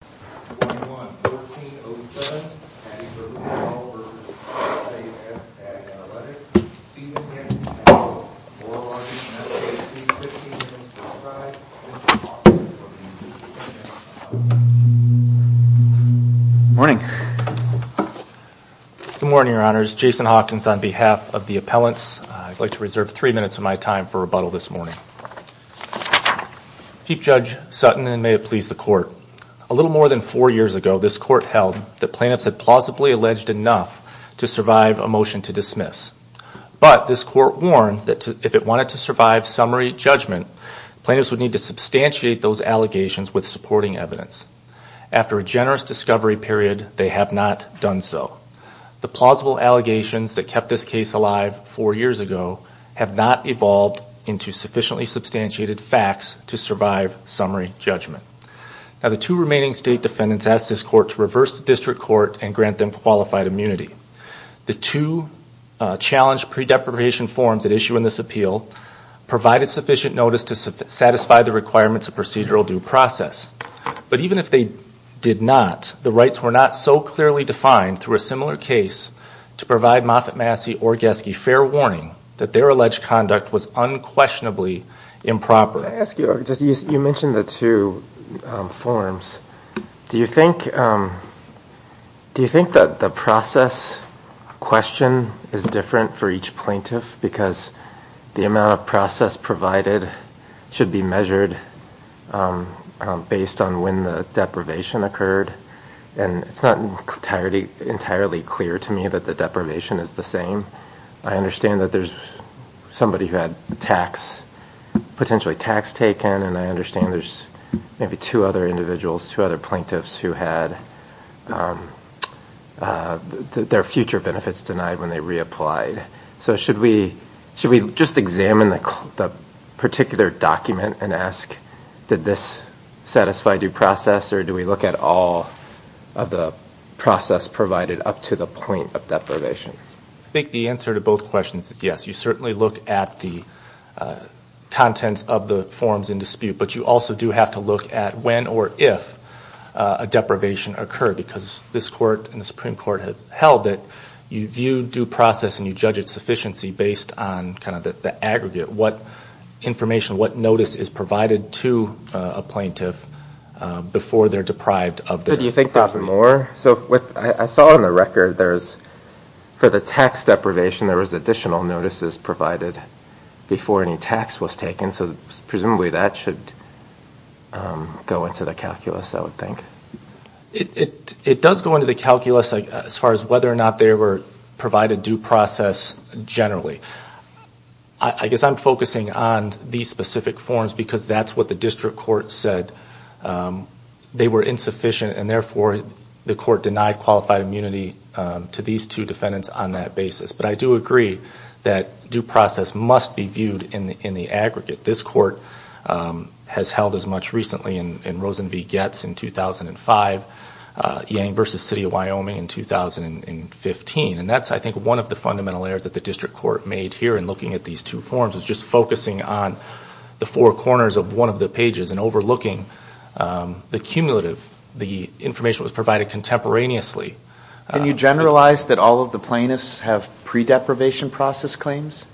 21-1407, Patti Cahoo v. SAS Analytics, Steven Yancey-Powell, Laura Larson, S.A.C. 15-25, Jason Hawkins v. SAS Analytics Morning. Good morning, Your Honors. Jason Hawkins on behalf of the appellants. I'd like to reserve three minutes of my time for rebuttal this morning. Chief Judge Sutton, and may it please the Court. A little more than four years ago, this Court held that plaintiffs had plausibly alleged enough to survive a motion to dismiss. But this Court warned that if it wanted to survive summary judgment, plaintiffs would need to substantiate those allegations with supporting evidence. After a generous discovery period, they have not done so. The plausible allegations that kept this case alive four years ago have not evolved into sufficiently substantiated facts to survive summary judgment. Now, the two remaining State defendants asked this Court to reverse the District Court and grant them qualified immunity. The two challenged pre-depreparation forms at issue in this appeal provided sufficient notice to satisfy the requirements of procedural due process. But even if they did not, the rights were not so clearly defined through a similar case to provide Moffitt-Massey-Orgesky fair warning that their alleged conduct was unquestionably improper. Can I ask you, you mentioned the two forms. Do you think that the process question is different for each plaintiff? Because the amount of process provided should be measured based on when the deprivation occurred. And it's not entirely clear to me that the deprivation is the same. I understand that there's somebody who had potentially tax taken, and I understand there's maybe two other individuals, two other plaintiffs, who had their future benefits denied when they reapplied. So should we just examine the particular document and ask, did this satisfy due process? Or do we look at all of the process provided up to the point of deprivation? I think the answer to both questions is yes. You certainly look at the contents of the forms in dispute. But you also do have to look at when or if a deprivation occurred. Because this Court and the Supreme Court have held that you view due process and you judge its sufficiency based on kind of the aggregate. What information, what notice is provided to a plaintiff before they're deprived of their... Do you think that's more? So I saw on the record there's, for the tax deprivation, there was additional notices provided before any tax was taken. So presumably that should go into the calculus, I would think. It does go into the calculus as far as whether or not they were provided due process generally. I guess I'm focusing on these specific forms because that's what the district court said. They were insufficient, and therefore the court denied qualified immunity to these two defendants on that basis. But I do agree that due process must be viewed in the aggregate. This Court has held as much recently in Rosen v. Goetz in 2005, Yang v. City of Wyoming in 2015. And that's, I think, one of the fundamental errors that the district court made here in looking at these two forms, was just focusing on the four corners of one of the pages and overlooking the cumulative, the information that was provided contemporaneously. Can you generalize that all of the plaintiffs have pre-deprivation process claims?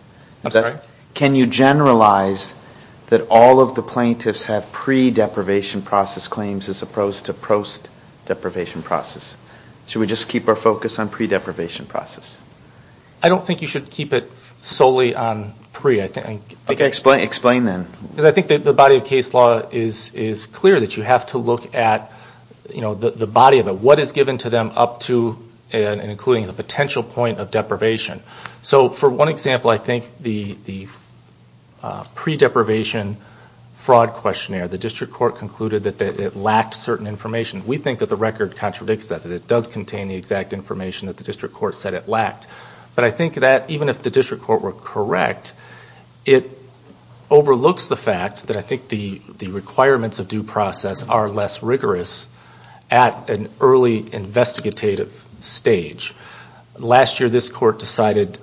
Should we just keep our focus on pre-deprivation process? I don't think you should keep it solely on pre. Explain then. I think the body of case law is clear that you have to look at the body of it, what is given to them up to and including the potential point of deprivation. So for one example, I think the pre-deprivation fraud questionnaire, the district court concluded that it lacked certain information. We think that the record contradicts that, that it does contain the exact information that the district court said it lacked. But I think that even if the district court were correct, it overlooks the fact that I think the requirements of due process are less rigorous at an early investigative stage. Last year this court decided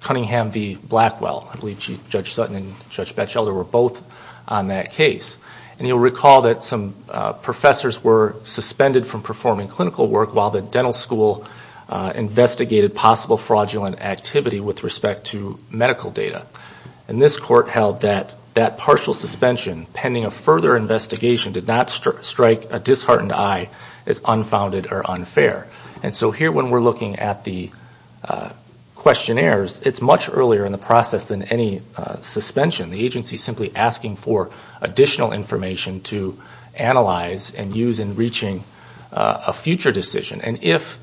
Cunningham v. Blackwell, I believe Judge Sutton and Judge Batchelder were both on that case. And you'll recall that some professors were suspended from performing clinical work while the dental school investigated possible fraudulent activity with respect to medical data. And this court held that that partial suspension pending a further investigation did not strike a disheartened eye as unfounded or unfair. So here when we're looking at the questionnaires, it's much earlier in the process than any suspension. The agency is simply asking for additional information to analyze and use in reaching a future decision. And if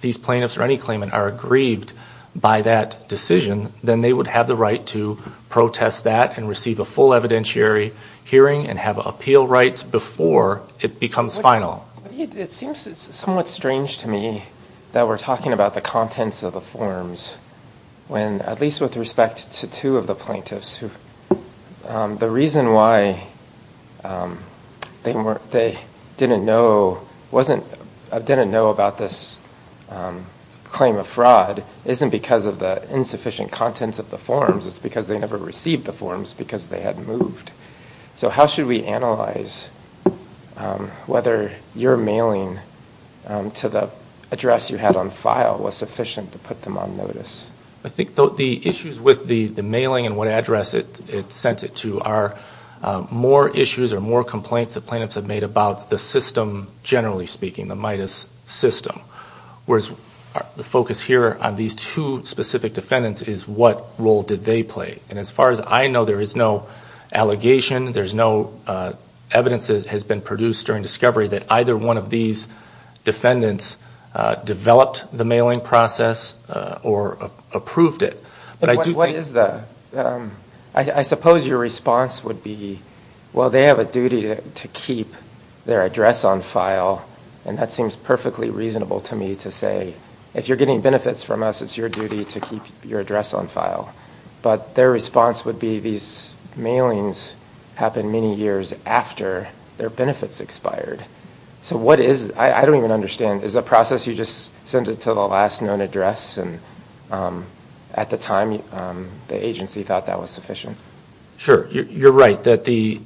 these plaintiffs or any claimant are aggrieved by that decision, then they would have the right to protest that and receive a full evidentiary hearing and have appeal rights before it becomes final. It seems somewhat strange to me that we're talking about the contents of the forms when, at least with respect to two of the plaintiffs, the reason why they didn't know about this claim of fraud isn't because of the insufficient contents of the forms, it's because they never received the forms because they had moved. So how should we analyze whether your mailing to the address you had on file was sufficient to put them on notice? I think the issues with the mailing and what address it sent it to are more issues or more complaints that plaintiffs have made about the system, generally speaking, the MIDAS system. Whereas the focus here on these two specific defendants is what role did they play. And as far as I know, there is no allegation, there's no evidence that has been produced during discovery that either one of these defendants developed the mailing process or approved it. But I do think... I suppose your response would be, well, they have a duty to keep their address on file, and that seems perfectly reasonable to me to say, if you're getting benefits from us, it's your duty to keep your address on file. But their response would be these mailings happened many years after their benefits expired. So what is...I don't even understand, is the process you just sent it to the last known address, and at the time the agency thought that was sufficient? Sure, you're right, that the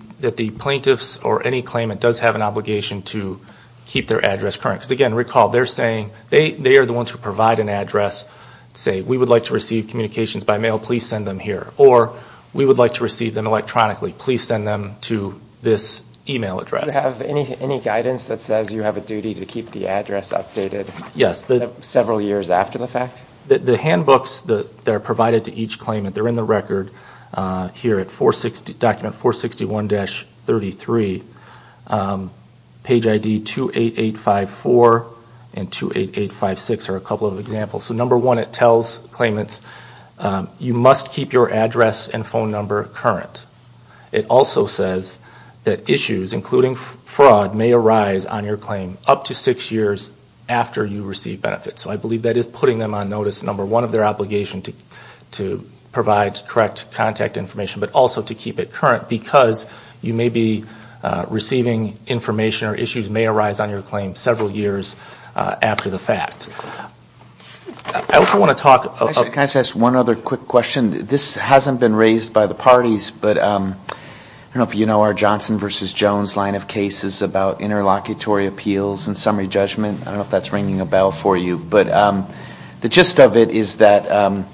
plaintiffs or any claimant does have an obligation to keep their address current. Because, again, recall, they're saying...they are the ones who provide an address, say, we would like to receive communications by mail, we would like to receive communications by email. Please send them here, or we would like to receive them electronically, please send them to this email address. Do you have any guidance that says you have a duty to keep the address updated several years after the fact? The handbooks that are provided to each claimant, they're in the record here at document 461-33. Page ID 28854 and 28856 are a couple of examples. So number one, it tells claimants, you must keep your address and phone number current. It also says that issues, including fraud, may arise on your claim up to six years after you receive benefits. So I believe that is putting them on notice, number one, of their obligation to provide correct contact information, but also to keep it current. Because you may be receiving information or issues may arise on your claim several years after the fact. I also want to talk about... This hasn't been raised by the parties, but I don't know if you know our Johnson v. Jones line of cases about interlocutory appeals and summary judgment. I don't know if that's ringing a bell for you, but the gist of it is that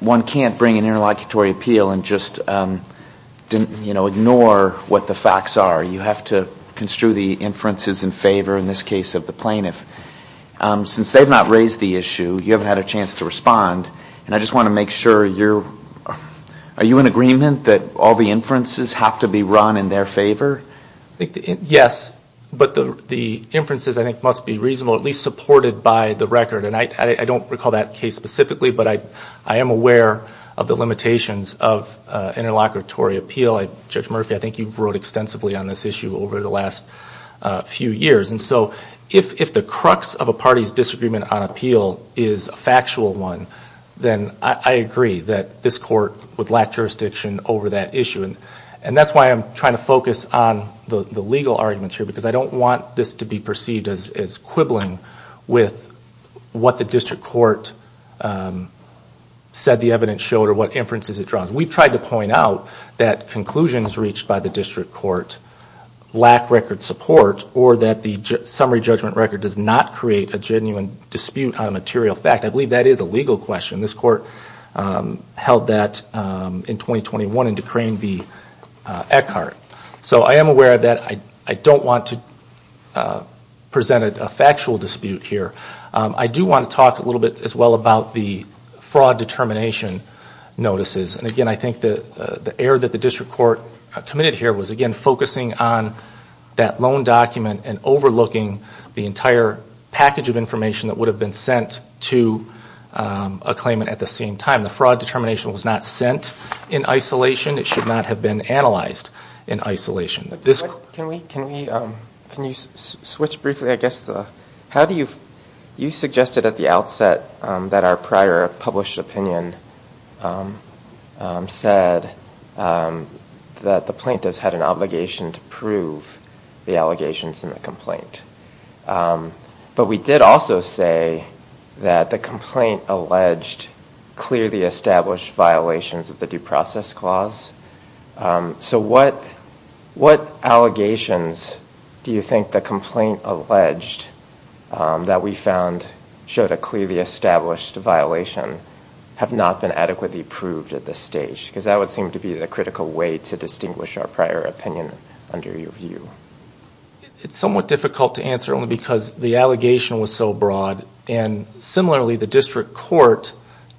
one can't bring an interlocutory appeal and just ignore what the facts are. You have to construe the inferences in favor in this case of the plaintiff. Since they've not raised the issue, you haven't had a chance to respond, and I just want to make sure you're... Are you in agreement that all the inferences have to be run in their favor? Yes, but the inferences, I think, must be reasonable, at least supported by the record. And I don't recall that case specifically, but I am aware of the limitations of interlocutory appeal. Judge Murphy, I think you've wrote extensively on this issue over the last few years. And so, if the crux of a party's disagreement on appeal is a factual one, then I agree that this court would lack jurisdiction over that issue. And that's why I'm trying to focus on the legal arguments here, because I don't want this to be perceived as quibbling with what the district court said the evidence showed or what inferences it draws. We've tried to point out that conclusions reached by the district court lack record support, or that the district court has no record support, that a summary judgment record does not create a genuine dispute on a material fact. I believe that is a legal question. This court held that in 2021 in Decrane v. Eckhart. So I am aware of that. I don't want to present a factual dispute here. I do want to talk a little bit, as well, about the fraud determination notices. And again, I think the error that the district court committed here was, again, focusing on that loan document and overlooking the fact that the district court was overlooking the entire package of information that would have been sent to a claimant at the same time. The fraud determination was not sent in isolation. It should not have been analyzed in isolation. Can we, can we, can you switch briefly, I guess, the, how do you, you suggested at the outset that our prior published opinion said that the plaintiffs had an obligation to prove the allegations in the complaint. But we did also say that the complaint alleged clearly established violations of the due process clause. So what, what allegations do you think the complaint alleged that we found showed a clearly established violation have not been adequately proved at this stage? Because that would seem to be the critical way to distinguish our prior opinion under your view. It's somewhat difficult to answer, only because the allegation was so broad. And similarly, the district court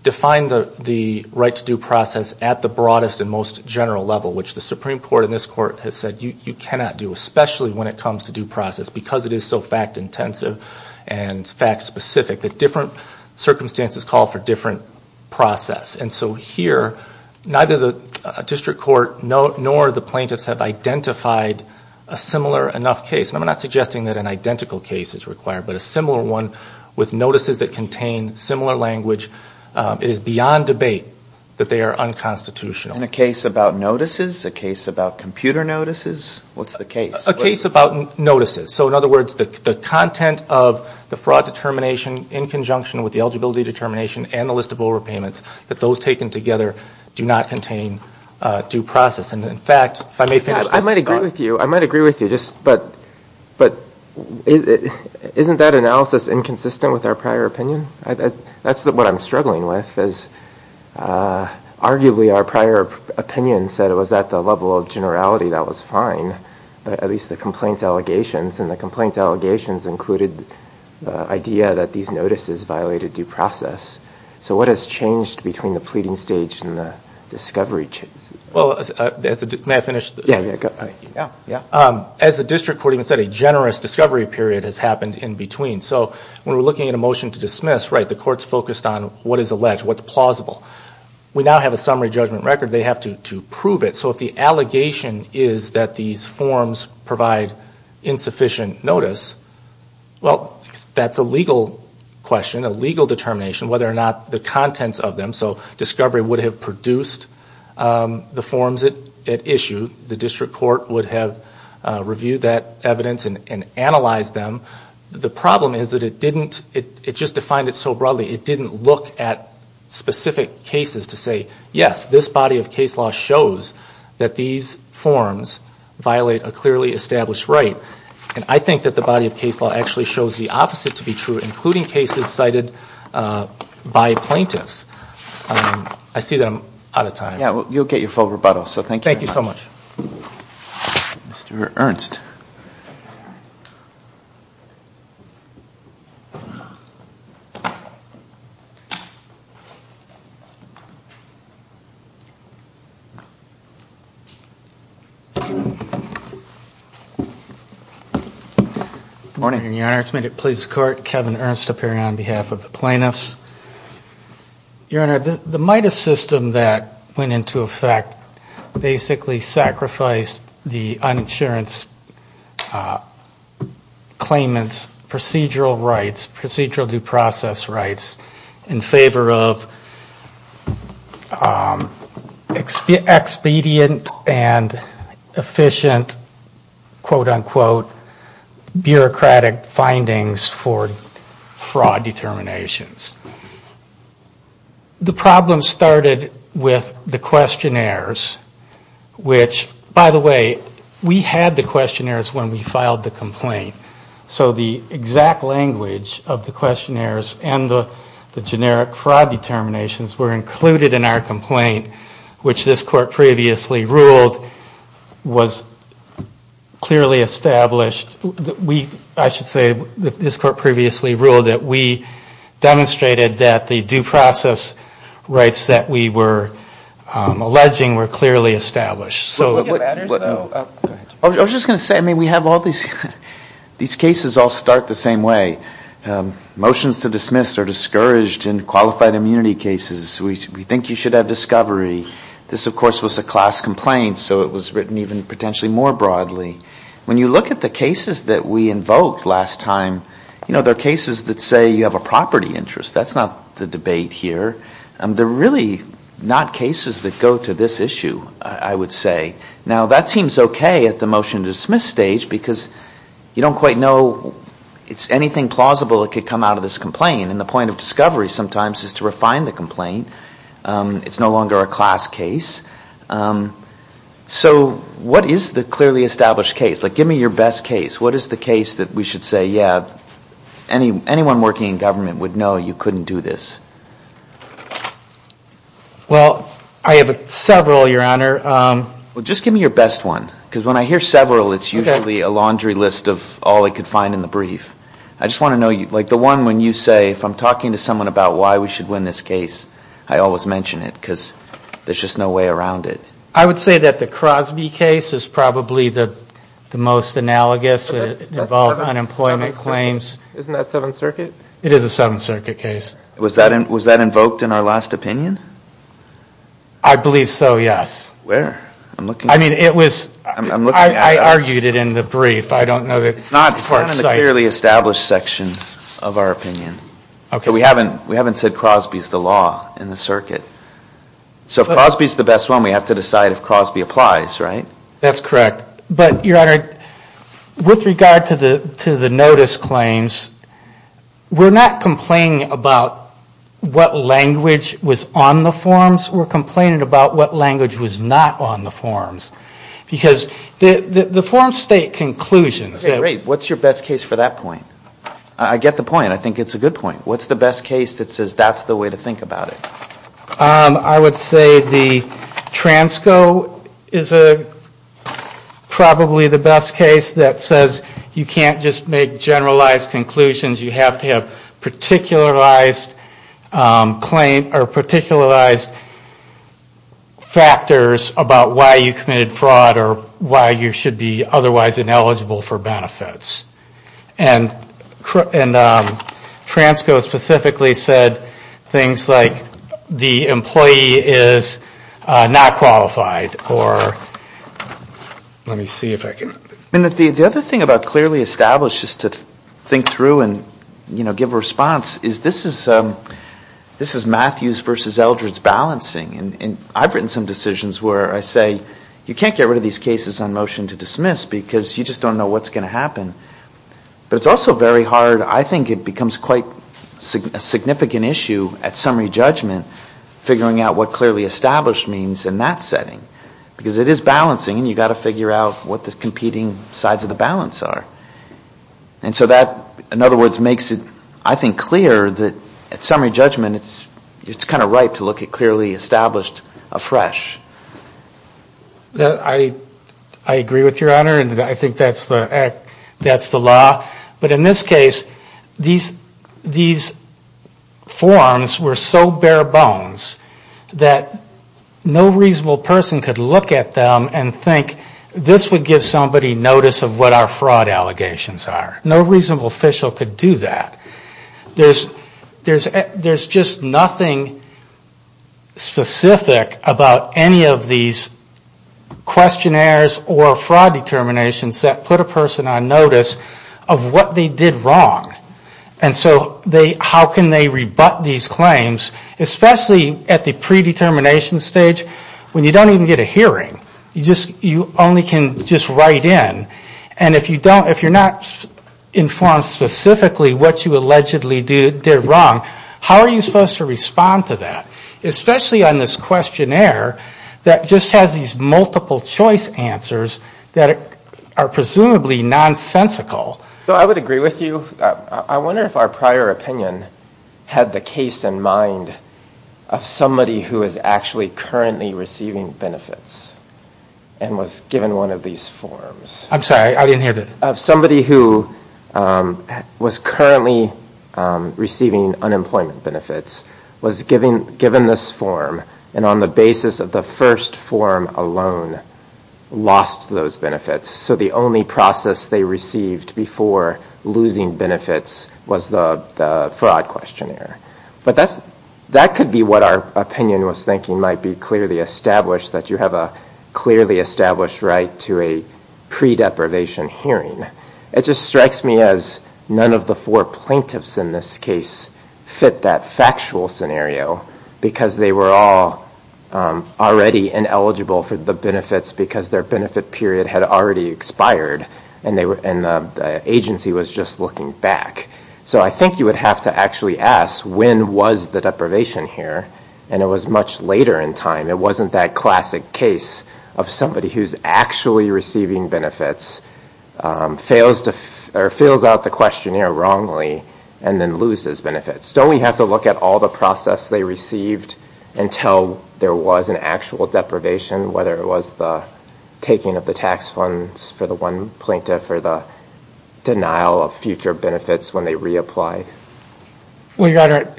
defined the right to due process at the broadest and most general level, which the Supreme Court and this Court has said you cannot do, especially when it comes to due process, because it is so fact-intensive and fact-specific, that different circumstances call for different process. And so here, neither the district court nor the plaintiffs have identified a significant violation of the due process clause. And so, in a similar enough case, and I'm not suggesting that an identical case is required, but a similar one with notices that contain similar language, it is beyond debate that they are unconstitutional. In a case about notices, a case about computer notices, what's the case? A case about notices. So in other words, the content of the fraud determination in conjunction with the eligibility determination and the list of overpayments, that those taken together do not contain due process. And in fact, if I may finish this. I might agree with you, but isn't that analysis inconsistent with our prior opinion? That's what I'm struggling with, as arguably our prior opinion said it was at the level of generality that was fine, at least the complaint allegations, and the complaint allegations included the idea that these notices violated due process. So what has changed between the pleading stage and the discovery? As the district court even said, a generous discovery period has happened in between. So when we're looking at a motion to dismiss, right, the court's focused on what is alleged, what's plausible. We now have a summary judgment record, they have to prove it. So if the allegation is that these forms provide insufficient notice, well, that's a legal question, a legal determination, whether or not the contents of them. So discovery would have produced the forms at issue. The district court would have reviewed that evidence and analyzed them. The problem is that it didn't, it just defined it so broadly, it didn't look at specific cases to say, yes, this body of case law shows that the contents of these forms, that these forms violate a clearly established right, and I think that the body of case law actually shows the opposite to be true, including cases cited by plaintiffs. I see that I'm out of time. Thank you so much. Good morning, Your Honor, it's my pleasure to court Kevin Ernst appearing on behalf of the plaintiffs. Your Honor, the MIDAS system that went into effect basically sacrificed the uninsurance claimants procedural rights, procedural due process rights in favor of expedient, expedient, expedient, expedient, expedient, expedient, expedient, expedient claims. And so we were able to get expedient and efficient, quote, unquote, bureaucratic findings for fraud determinations. The problem started with the questionnaires, which, by the way, we had the questionnaires when we filed the complaint. So the exact language of the questionnaires and the generic fraud determinations were included in our complaint, which this court previously ruled that the due process rights that we were alleging were clearly established. I was just going to say, I mean, we have all these cases all start the same way. Motions to dismiss are discouraged in qualified immunity cases. We think you should have discovery. This, of course, was a class complaint, so it was written even potentially more broadly. When you look at the cases that we invoked last time, you know, they're cases that say you have a property interest. That's not the debate here. They're really not cases that go to this issue, I would say. Now, that seems okay at the motion to dismiss stage, because you don't quite know it's anything plausible that could come out of this complaint. And the point of discovery sometimes is to refine the complaint. It's no longer a class case. So what is the clearly established case? Like, give me your best case. What is the case that we should say, yeah, anyone working in government would know you couldn't do this? Well, I have several, Your Honor. Well, just give me your best one, because when I hear several, it's usually a laundry list of all I could find in the brief. I just want to know, like the one when you say, if I'm talking to someone about why we should win this case, I always mention it, because there's just no way around it. I would say that the Crosby case is probably the most analogous. It involved unemployment claims. Isn't that Seventh Circuit? It is a Seventh Circuit case. Was that invoked in our last opinion? I believe so, yes. Where? I mean, I argued it in the brief. It's not in the clearly established section of our opinion. We haven't said Crosby is the law in the circuit. So if Crosby is the best one, we have to decide if Crosby applies, right? That's correct. But, Your Honor, with regard to the notice claims, we're not complaining about what language was on the forms. Because the forms state conclusions. Okay, great. What's your best case for that point? I get the point. I think it's a good point. What's the best case that says that's the way to think about it? I would say the Transco is probably the best case that says you can't just make generalized conclusions. You have to have particularized claim or particularized factors about why you committed a crime. Or why you committed fraud or why you should be otherwise ineligible for benefits. And Transco specifically said things like the employee is not qualified or let me see if I can. The other thing about clearly established is to think through and give a response is this is Matthews versus Eldred's balancing. And I've written some decisions where I say you can't get rid of these cases on motion to dismiss because you just don't know what's going to happen. But it's also very hard, I think it becomes quite a significant issue at summary judgment figuring out what clearly established means in that setting. Because it is balancing and you've got to figure out what the competing sides of the balance are. And so that, in other words, makes it, I think, clear that at summary judgment it's kind of right to look at clearly established cases. And not just look at what's been established afresh. I agree with your honor and I think that's the law. But in this case, these forms were so bare bones that no reasonable person could look at them and think this would give somebody notice of what our fraud allegations are. No reasonable official could do that. There's just nothing specific about any of these questionnaires or fraud determinations that put a person on notice of what they did wrong. And so how can they rebut these claims, especially at the predetermination stage when you don't even get a hearing. You only can just write in. And if you're not informed specifically what you allegedly did wrong, you can't do that. How are you supposed to respond to that? Especially on this questionnaire that just has these multiple choice answers that are presumably nonsensical. I would agree with you. I wonder if our prior opinion had the case in mind of somebody who is actually currently receiving benefits and was given one of these forms. I'm sorry, I didn't hear that. Somebody who was currently receiving unemployment benefits was given this form and on the basis of the first form alone lost those benefits. So the only process they received before losing benefits was the fraud questionnaire. But that could be what our opinion was thinking might be clearly established that you have a clearly established right to a predeprivation hearing. It just strikes me as none of the four plaintiffs in this case fit that factual scenario because they were all already ineligible for the benefits because their benefit period had already expired and the agency was just looking back. So I think you would have to actually ask, when was the deprivation here? And it was much later in time. It wasn't that classic case of somebody who's actually receiving benefits. And then fails out the questionnaire wrongly and then loses benefits. Don't we have to look at all the process they received until there was an actual deprivation? Whether it was the taking of the tax funds for the one plaintiff or the denial of future benefits when they reapplied? Well, Your Honor,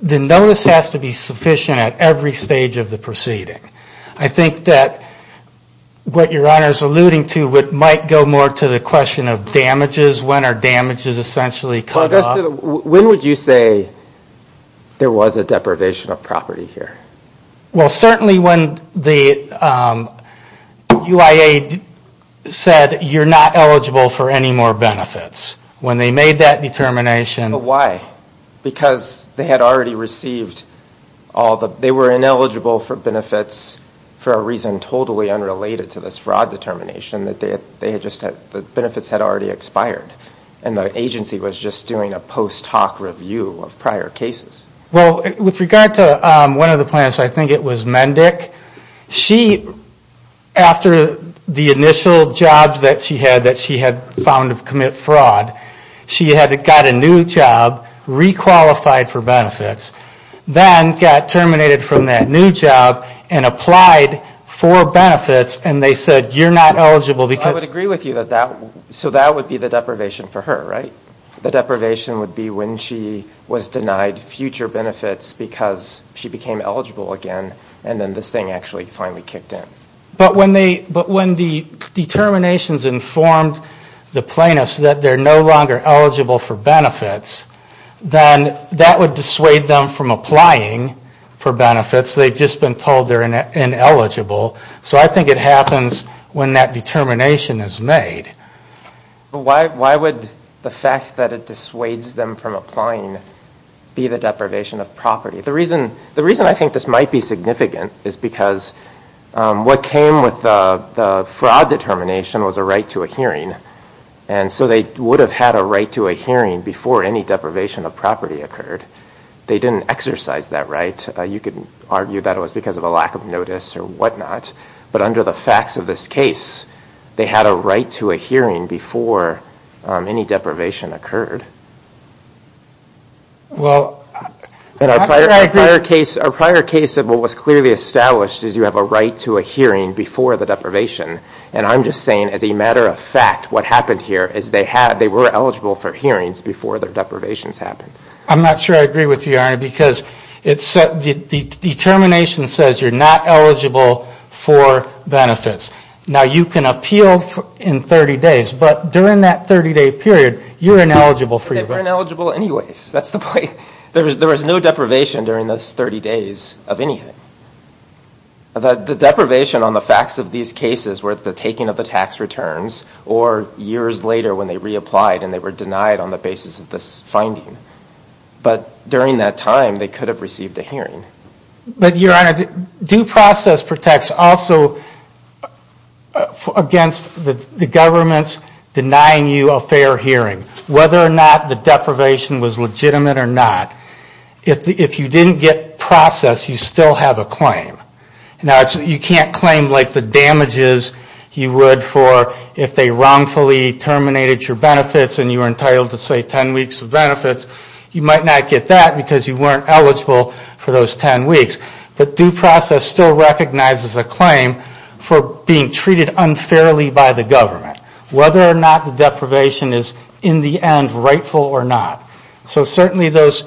the notice has to be sufficient at every stage of the proceeding. I think that what Your Honor is alluding to might go more to the question of whether or not there was a fraud. The question of damages, when are damages essentially cut off? When would you say there was a deprivation of property here? Well, certainly when the UIA said you're not eligible for any more benefits. When they made that determination. But why? Because they had already received all the... They were ineligible for benefits for a reason totally unrelated to this fraud determination. The benefits had already expired. And the agency was just doing a post hoc review of prior cases. Well, with regard to one of the plaintiffs, I think it was Mendick. She, after the initial jobs that she had that she had found to commit fraud, she had got a new job, re-qualified for benefits. Then got terminated from that new job and applied for benefits. And they said, you're not eligible because... I would agree with you. So that would be the deprivation for her, right? The deprivation would be when she was denied future benefits because she became eligible again. And then this thing actually finally kicked in. But when the determinations informed the plaintiffs that they're no longer eligible for benefits, then that would dissuade them from applying for benefits. They've just been told they're ineligible. So what happens when that determination is made? Why would the fact that it dissuades them from applying be the deprivation of property? The reason I think this might be significant is because what came with the fraud determination was a right to a hearing. And so they would have had a right to a hearing before any deprivation of property occurred. They didn't exercise that right. You could argue that it was because of a lack of notice or whatnot. But under the facts of this case, they had a right to a hearing before any deprivation occurred. Our prior case of what was clearly established is you have a right to a hearing before the deprivation. And I'm just saying as a matter of fact, what happened here is they were eligible for hearings before their deprivations happened. I'm not sure I agree with you, Arne, because the determination says you're not eligible for benefits. Now, you can appeal in 30 days, but during that 30-day period, you're ineligible for your benefits. They were ineligible anyways. That's the point. There was no deprivation during those 30 days of anything. The deprivation on the facts of these cases were at the taking of the tax returns or years later when they reapplied and they were denied on the basis of this finding. But during that time, they could have received a hearing. But, Your Honor, due process protects also against the government's denying you a fair hearing. Whether or not the deprivation was legitimate or not, if you didn't get process, you still have a claim. Now, you can't claim like the damages you would for if they wrongfully terminated your benefits and you were entitled to say 10 weeks of benefits, you might not get that because you weren't eligible for those 10 weeks. But due process still recognizes a claim for being treated unfairly by the government. Whether or not the deprivation is in the end rightful or not. So certainly those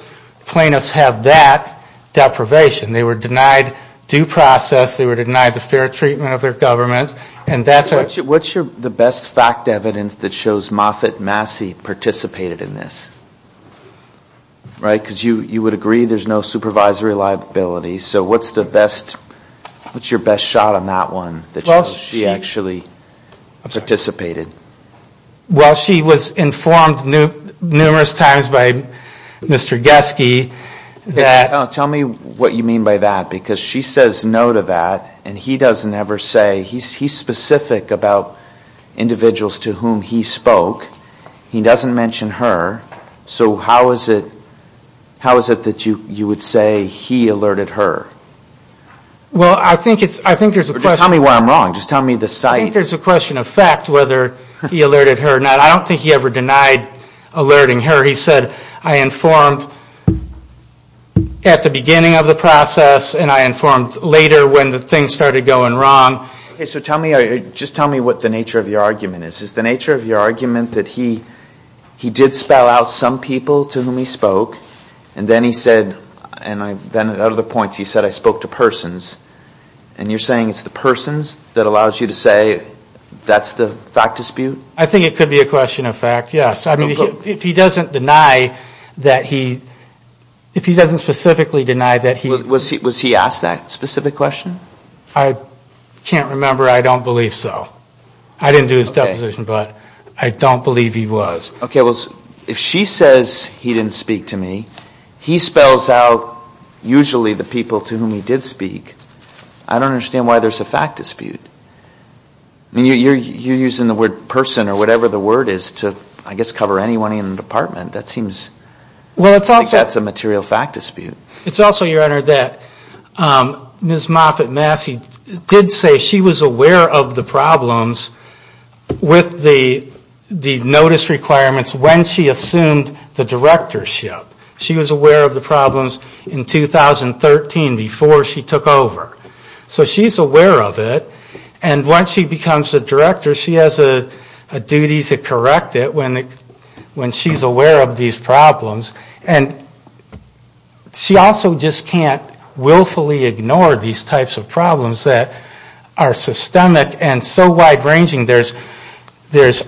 plaintiffs have that deprivation. They were denied due process, they were denied the fair treatment of their government, and that's a... So what's the best evidence that shows Moffitt Massey participated in this? Right? Because you would agree there's no supervisory liability. So what's the best, what's your best shot on that one that shows she actually participated? Well, she was informed numerous times by Mr. Geske that... Tell me what you mean by that because she says no to that and he doesn't ever say, he's specific about individuals to whom he spoke, he doesn't mention her. So how is it that you would say he alerted her? Well, I think there's a question... Tell me why I'm wrong, just tell me the site. I think there's a question of fact whether he alerted her or not. I don't think he ever denied alerting her. He said, I informed at the beginning of the process and I informed later when the thing started going wrong. Okay, so tell me, just tell me what the nature of your argument is. Is the nature of your argument that he did spell out some people to whom he spoke and then he said, and then out of the points he said, I spoke to persons and you're saying it's the persons that allows you to say that's the fact dispute? I think it could be a question of fact, yes. I mean, if he doesn't deny that he... If he doesn't specifically deny that he... Was he asked that specific question? I can't remember, I don't believe so. I didn't do his deposition, but I don't believe he was. Okay, well, if she says he didn't speak to me, he spells out usually the people to whom he did speak. I don't understand why there's a fact dispute. I mean, you're using the word person or whatever the word is to, I guess, cover anyone in the department. That seems... It's also, Your Honor, that Ms. Moffitt-Massey did say she was aware of the problems with the notice requirements when she assumed the directorship. She was aware of the problems in 2013 before she took over. So she's aware of it, and once she becomes the director, she has a duty to correct it when she's aware of these problems. And she also just can't willfully ignore these types of problems that are systemic and so wide-ranging. There's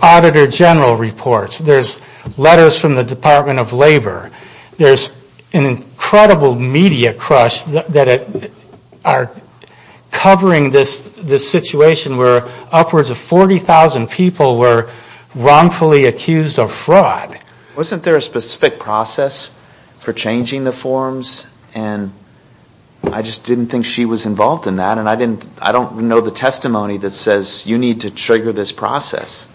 Auditor General reports. There's letters from the Department of Labor. There's an incredible media crush that are covering this situation where upwards of 40,000 people were wrongfully accused of fraud. Wasn't there a specific process for changing the forms? And I just didn't think she was involved in that, and I don't know the testimony that says you need to trigger this process.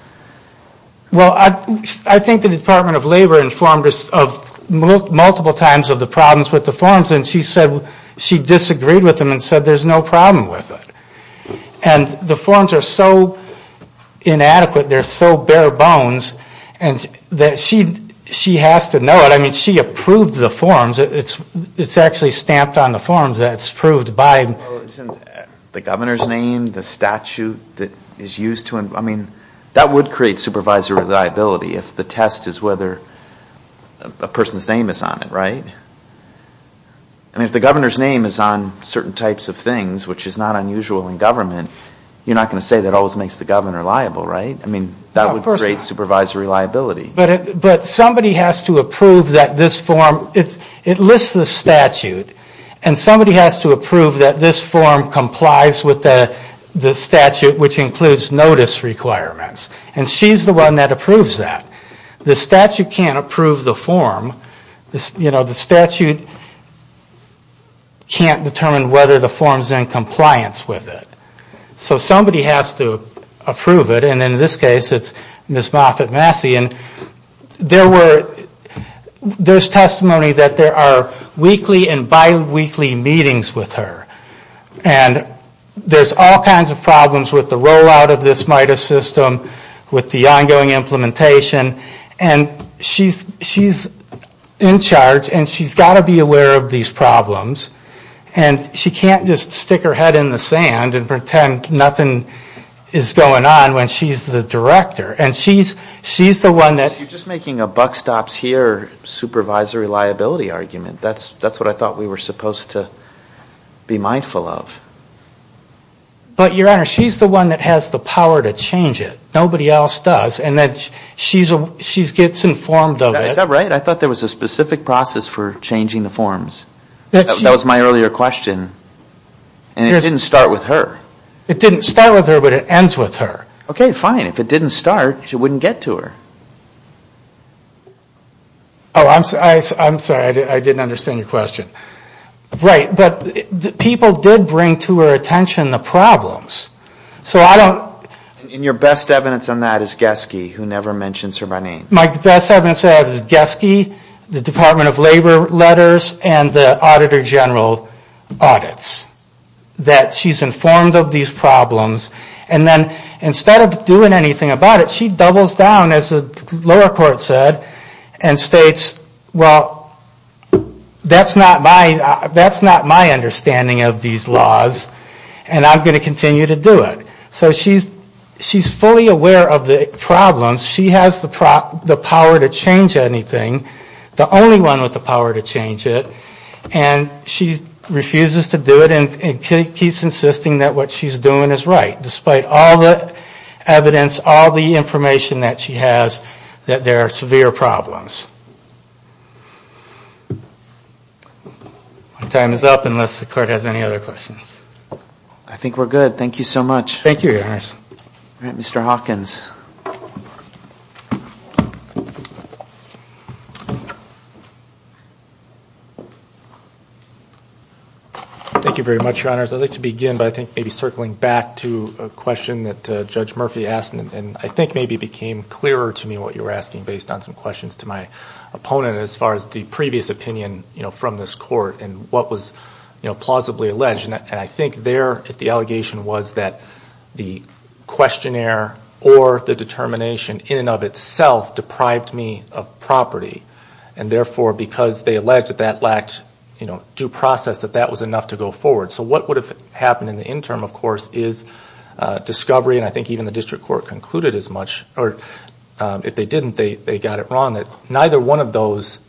Well, I think the Department of Labor informed us of multiple times of the problems with the forms, and she said she disagreed with them and said there's no problem with it. And the forms are so inadequate, they're so bare bones, and she has to know it. I mean, she approved the forms. It's actually stamped on the forms that it's approved by. Well, isn't the governor's name, the statute that is used to... I mean, that would create supervisory liability if the test is whether a person's name is on it, right? I mean, if the governor's name is on certain types of things, which is not unusual in government, you're not going to say that always makes the governor liable, right? I mean, that would create supervisory liability. But somebody has to approve that this form... It lists the statute, and somebody has to approve that this form complies with the statute, which includes notice requirements. And she's the one that approves that. The statute can't approve the form. The statute can't determine whether the form's in compliance with it. So somebody has to approve it. And in this case, it's Ms. Moffitt-Massey. And there's testimony that there are weekly and biweekly meetings with her. And there's all kinds of problems with the rollout of this MIDAS system, with the ongoing implementation. And she's in charge, and she's got to be aware of these problems. And she can't just stick her head in the sand and pretend nothing is going on when she's the director. You're just making a buck stops here, supervisory liability argument. That's what I thought we were supposed to be mindful of. But, Your Honor, she's the one that has the power to change it. Nobody else does. And she gets informed of it. Is that right? I thought there was a specific process for changing the forms. That was my earlier question. And it didn't start with her. It didn't start with her, but it ends with her. Okay, fine. If it didn't start, it wouldn't get to her. Oh, I'm sorry. I didn't understand your question. Right. But people did bring to her attention the problems. And your best evidence on that is Geske, who never mentions her by name. My best evidence is Geske, the Department of Labor letters, and the Auditor General audits. That she's informed of these problems. And then, instead of doing anything about it, she doubles down, as the lower court said, and states, well, that's not my understanding of these laws. And I'm going to continue to do it. So she's fully aware of the problems. She has the power to change anything. The only one with the power to change it. And she refuses to do it and keeps insisting that what she's doing is right. Despite all the evidence, all the information that she has that there are severe problems. My time is up, unless the court has any other questions. I think we're good. Thank you so much. Mr. Hawkins. Thank you very much, Your Honors. I'd like to begin by circling back to a question that Judge Murphy asked and I think maybe it became clearer to me what you were asking based on some questions to my opponent as far as the previous opinion from this court and what was plausibly alleged. And I think there the allegation was that the questionnaire or the determination in and of itself deprived me of property. And therefore, because they alleged that that lacked due process, that that was enough to go forward. So what would have happened in the interim, of course, is discovery, and I think even the district court concluded as much or if they didn't, they got it wrong that neither one of those,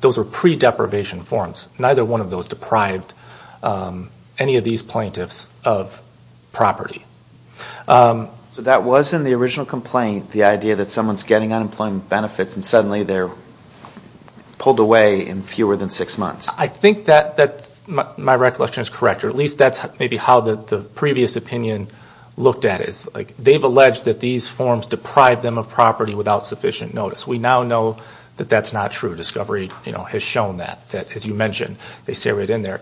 those were pre-deprivation forms neither one of those deprived any of these plaintiffs of property. So that was in the original complaint the idea that someone's getting unemployment benefits and suddenly they're pulled away in fewer than six months. I think that my recollection is correct or at least that's maybe how the previous opinion looked at it. They've alleged that these forms deprive them of property without sufficient notice. We now know that that's not true. Discovery has shown that. As you mentioned, they say right in there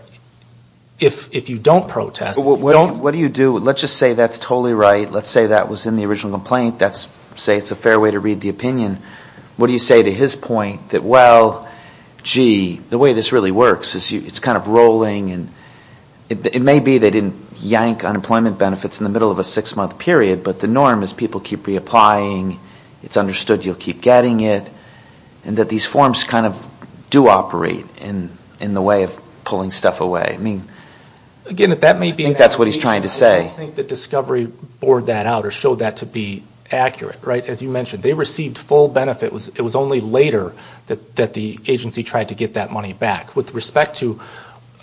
if you don't protest... What do you do? Let's just say that's totally right. Let's say that was in the original complaint. Let's say it's a fair way to read the opinion. What do you say to his point that, well, gee the way this really works is it's kind of rolling and it may be they didn't yank unemployment benefits in the middle of a six-month period but the norm is people keep reapplying it's understood you'll keep getting it and that these forms kind of do operate in the way of pulling stuff away. I think that's what he's trying to say. I don't think that Discovery bored that out or showed that to be accurate. As you mentioned, they received full benefit. It was only later that the agency tried to get that money back. With respect to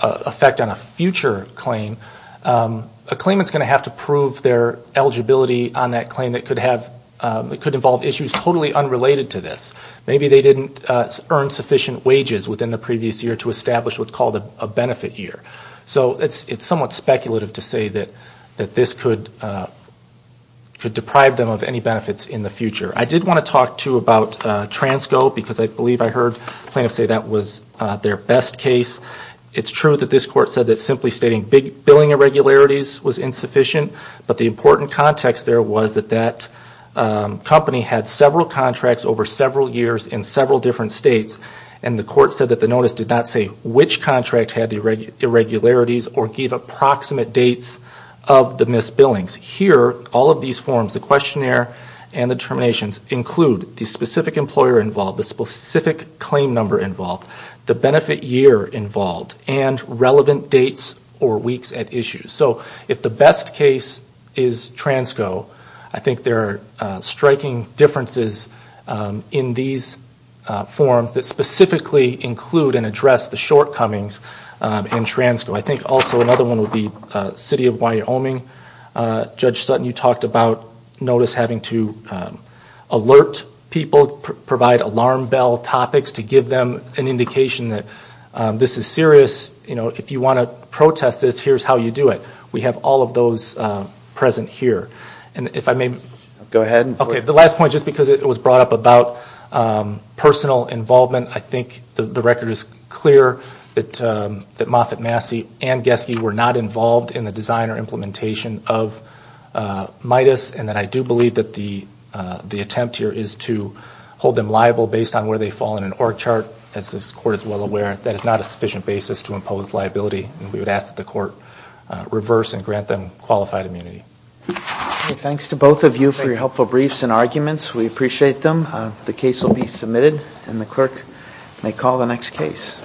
effect on a future claim a claimant's going to have to prove their eligibility on that claim that could involve issues totally unrelated to this. Maybe they didn't earn sufficient wages within the previous year to establish what's called a benefit year. So it's somewhat speculative to say that this could deprive them of any benefits in the future. I did want to talk, too, about Transco because I believe I heard plaintiffs say that was their best case. It's true that this court said that simply stating big billing irregularities was insufficient, but the important context there was that that company had several contracts over several years in several different states, and the court said that the notice did not say which contract had the irregularities or give approximate dates of the missed billings. Here, all of these forms, the questionnaire and the terminations include the specific employer involved, the specific claim number involved, the benefit year involved, and relevant dates or weeks at issue. So if the best case is Transco, I think there are striking differences in these forms that specifically include and address the shortcomings in Transco. I think also another one would be City of Wyoming. Judge Sutton, you talked about notice having to alert people, provide alarm bell topics to give them an indication that this is serious. If you want to protest this, here's how you do it. We have all of those present here. The last point, just because it was brought up about personal involvement, I think the record is clear that Moffitt, Massey, and Geske were not involved in the design or implementation of MIDAS, and that I do believe that the attempt here is to hold them liable based on where they fall in an org chart. As this court is well aware, that is not a sufficient basis to impose liability, and we would ask that the court reverse and grant them qualified immunity. Thanks to both of you for your helpful briefs and arguments. We appreciate them. The case will be submitted, and the clerk may call the next case.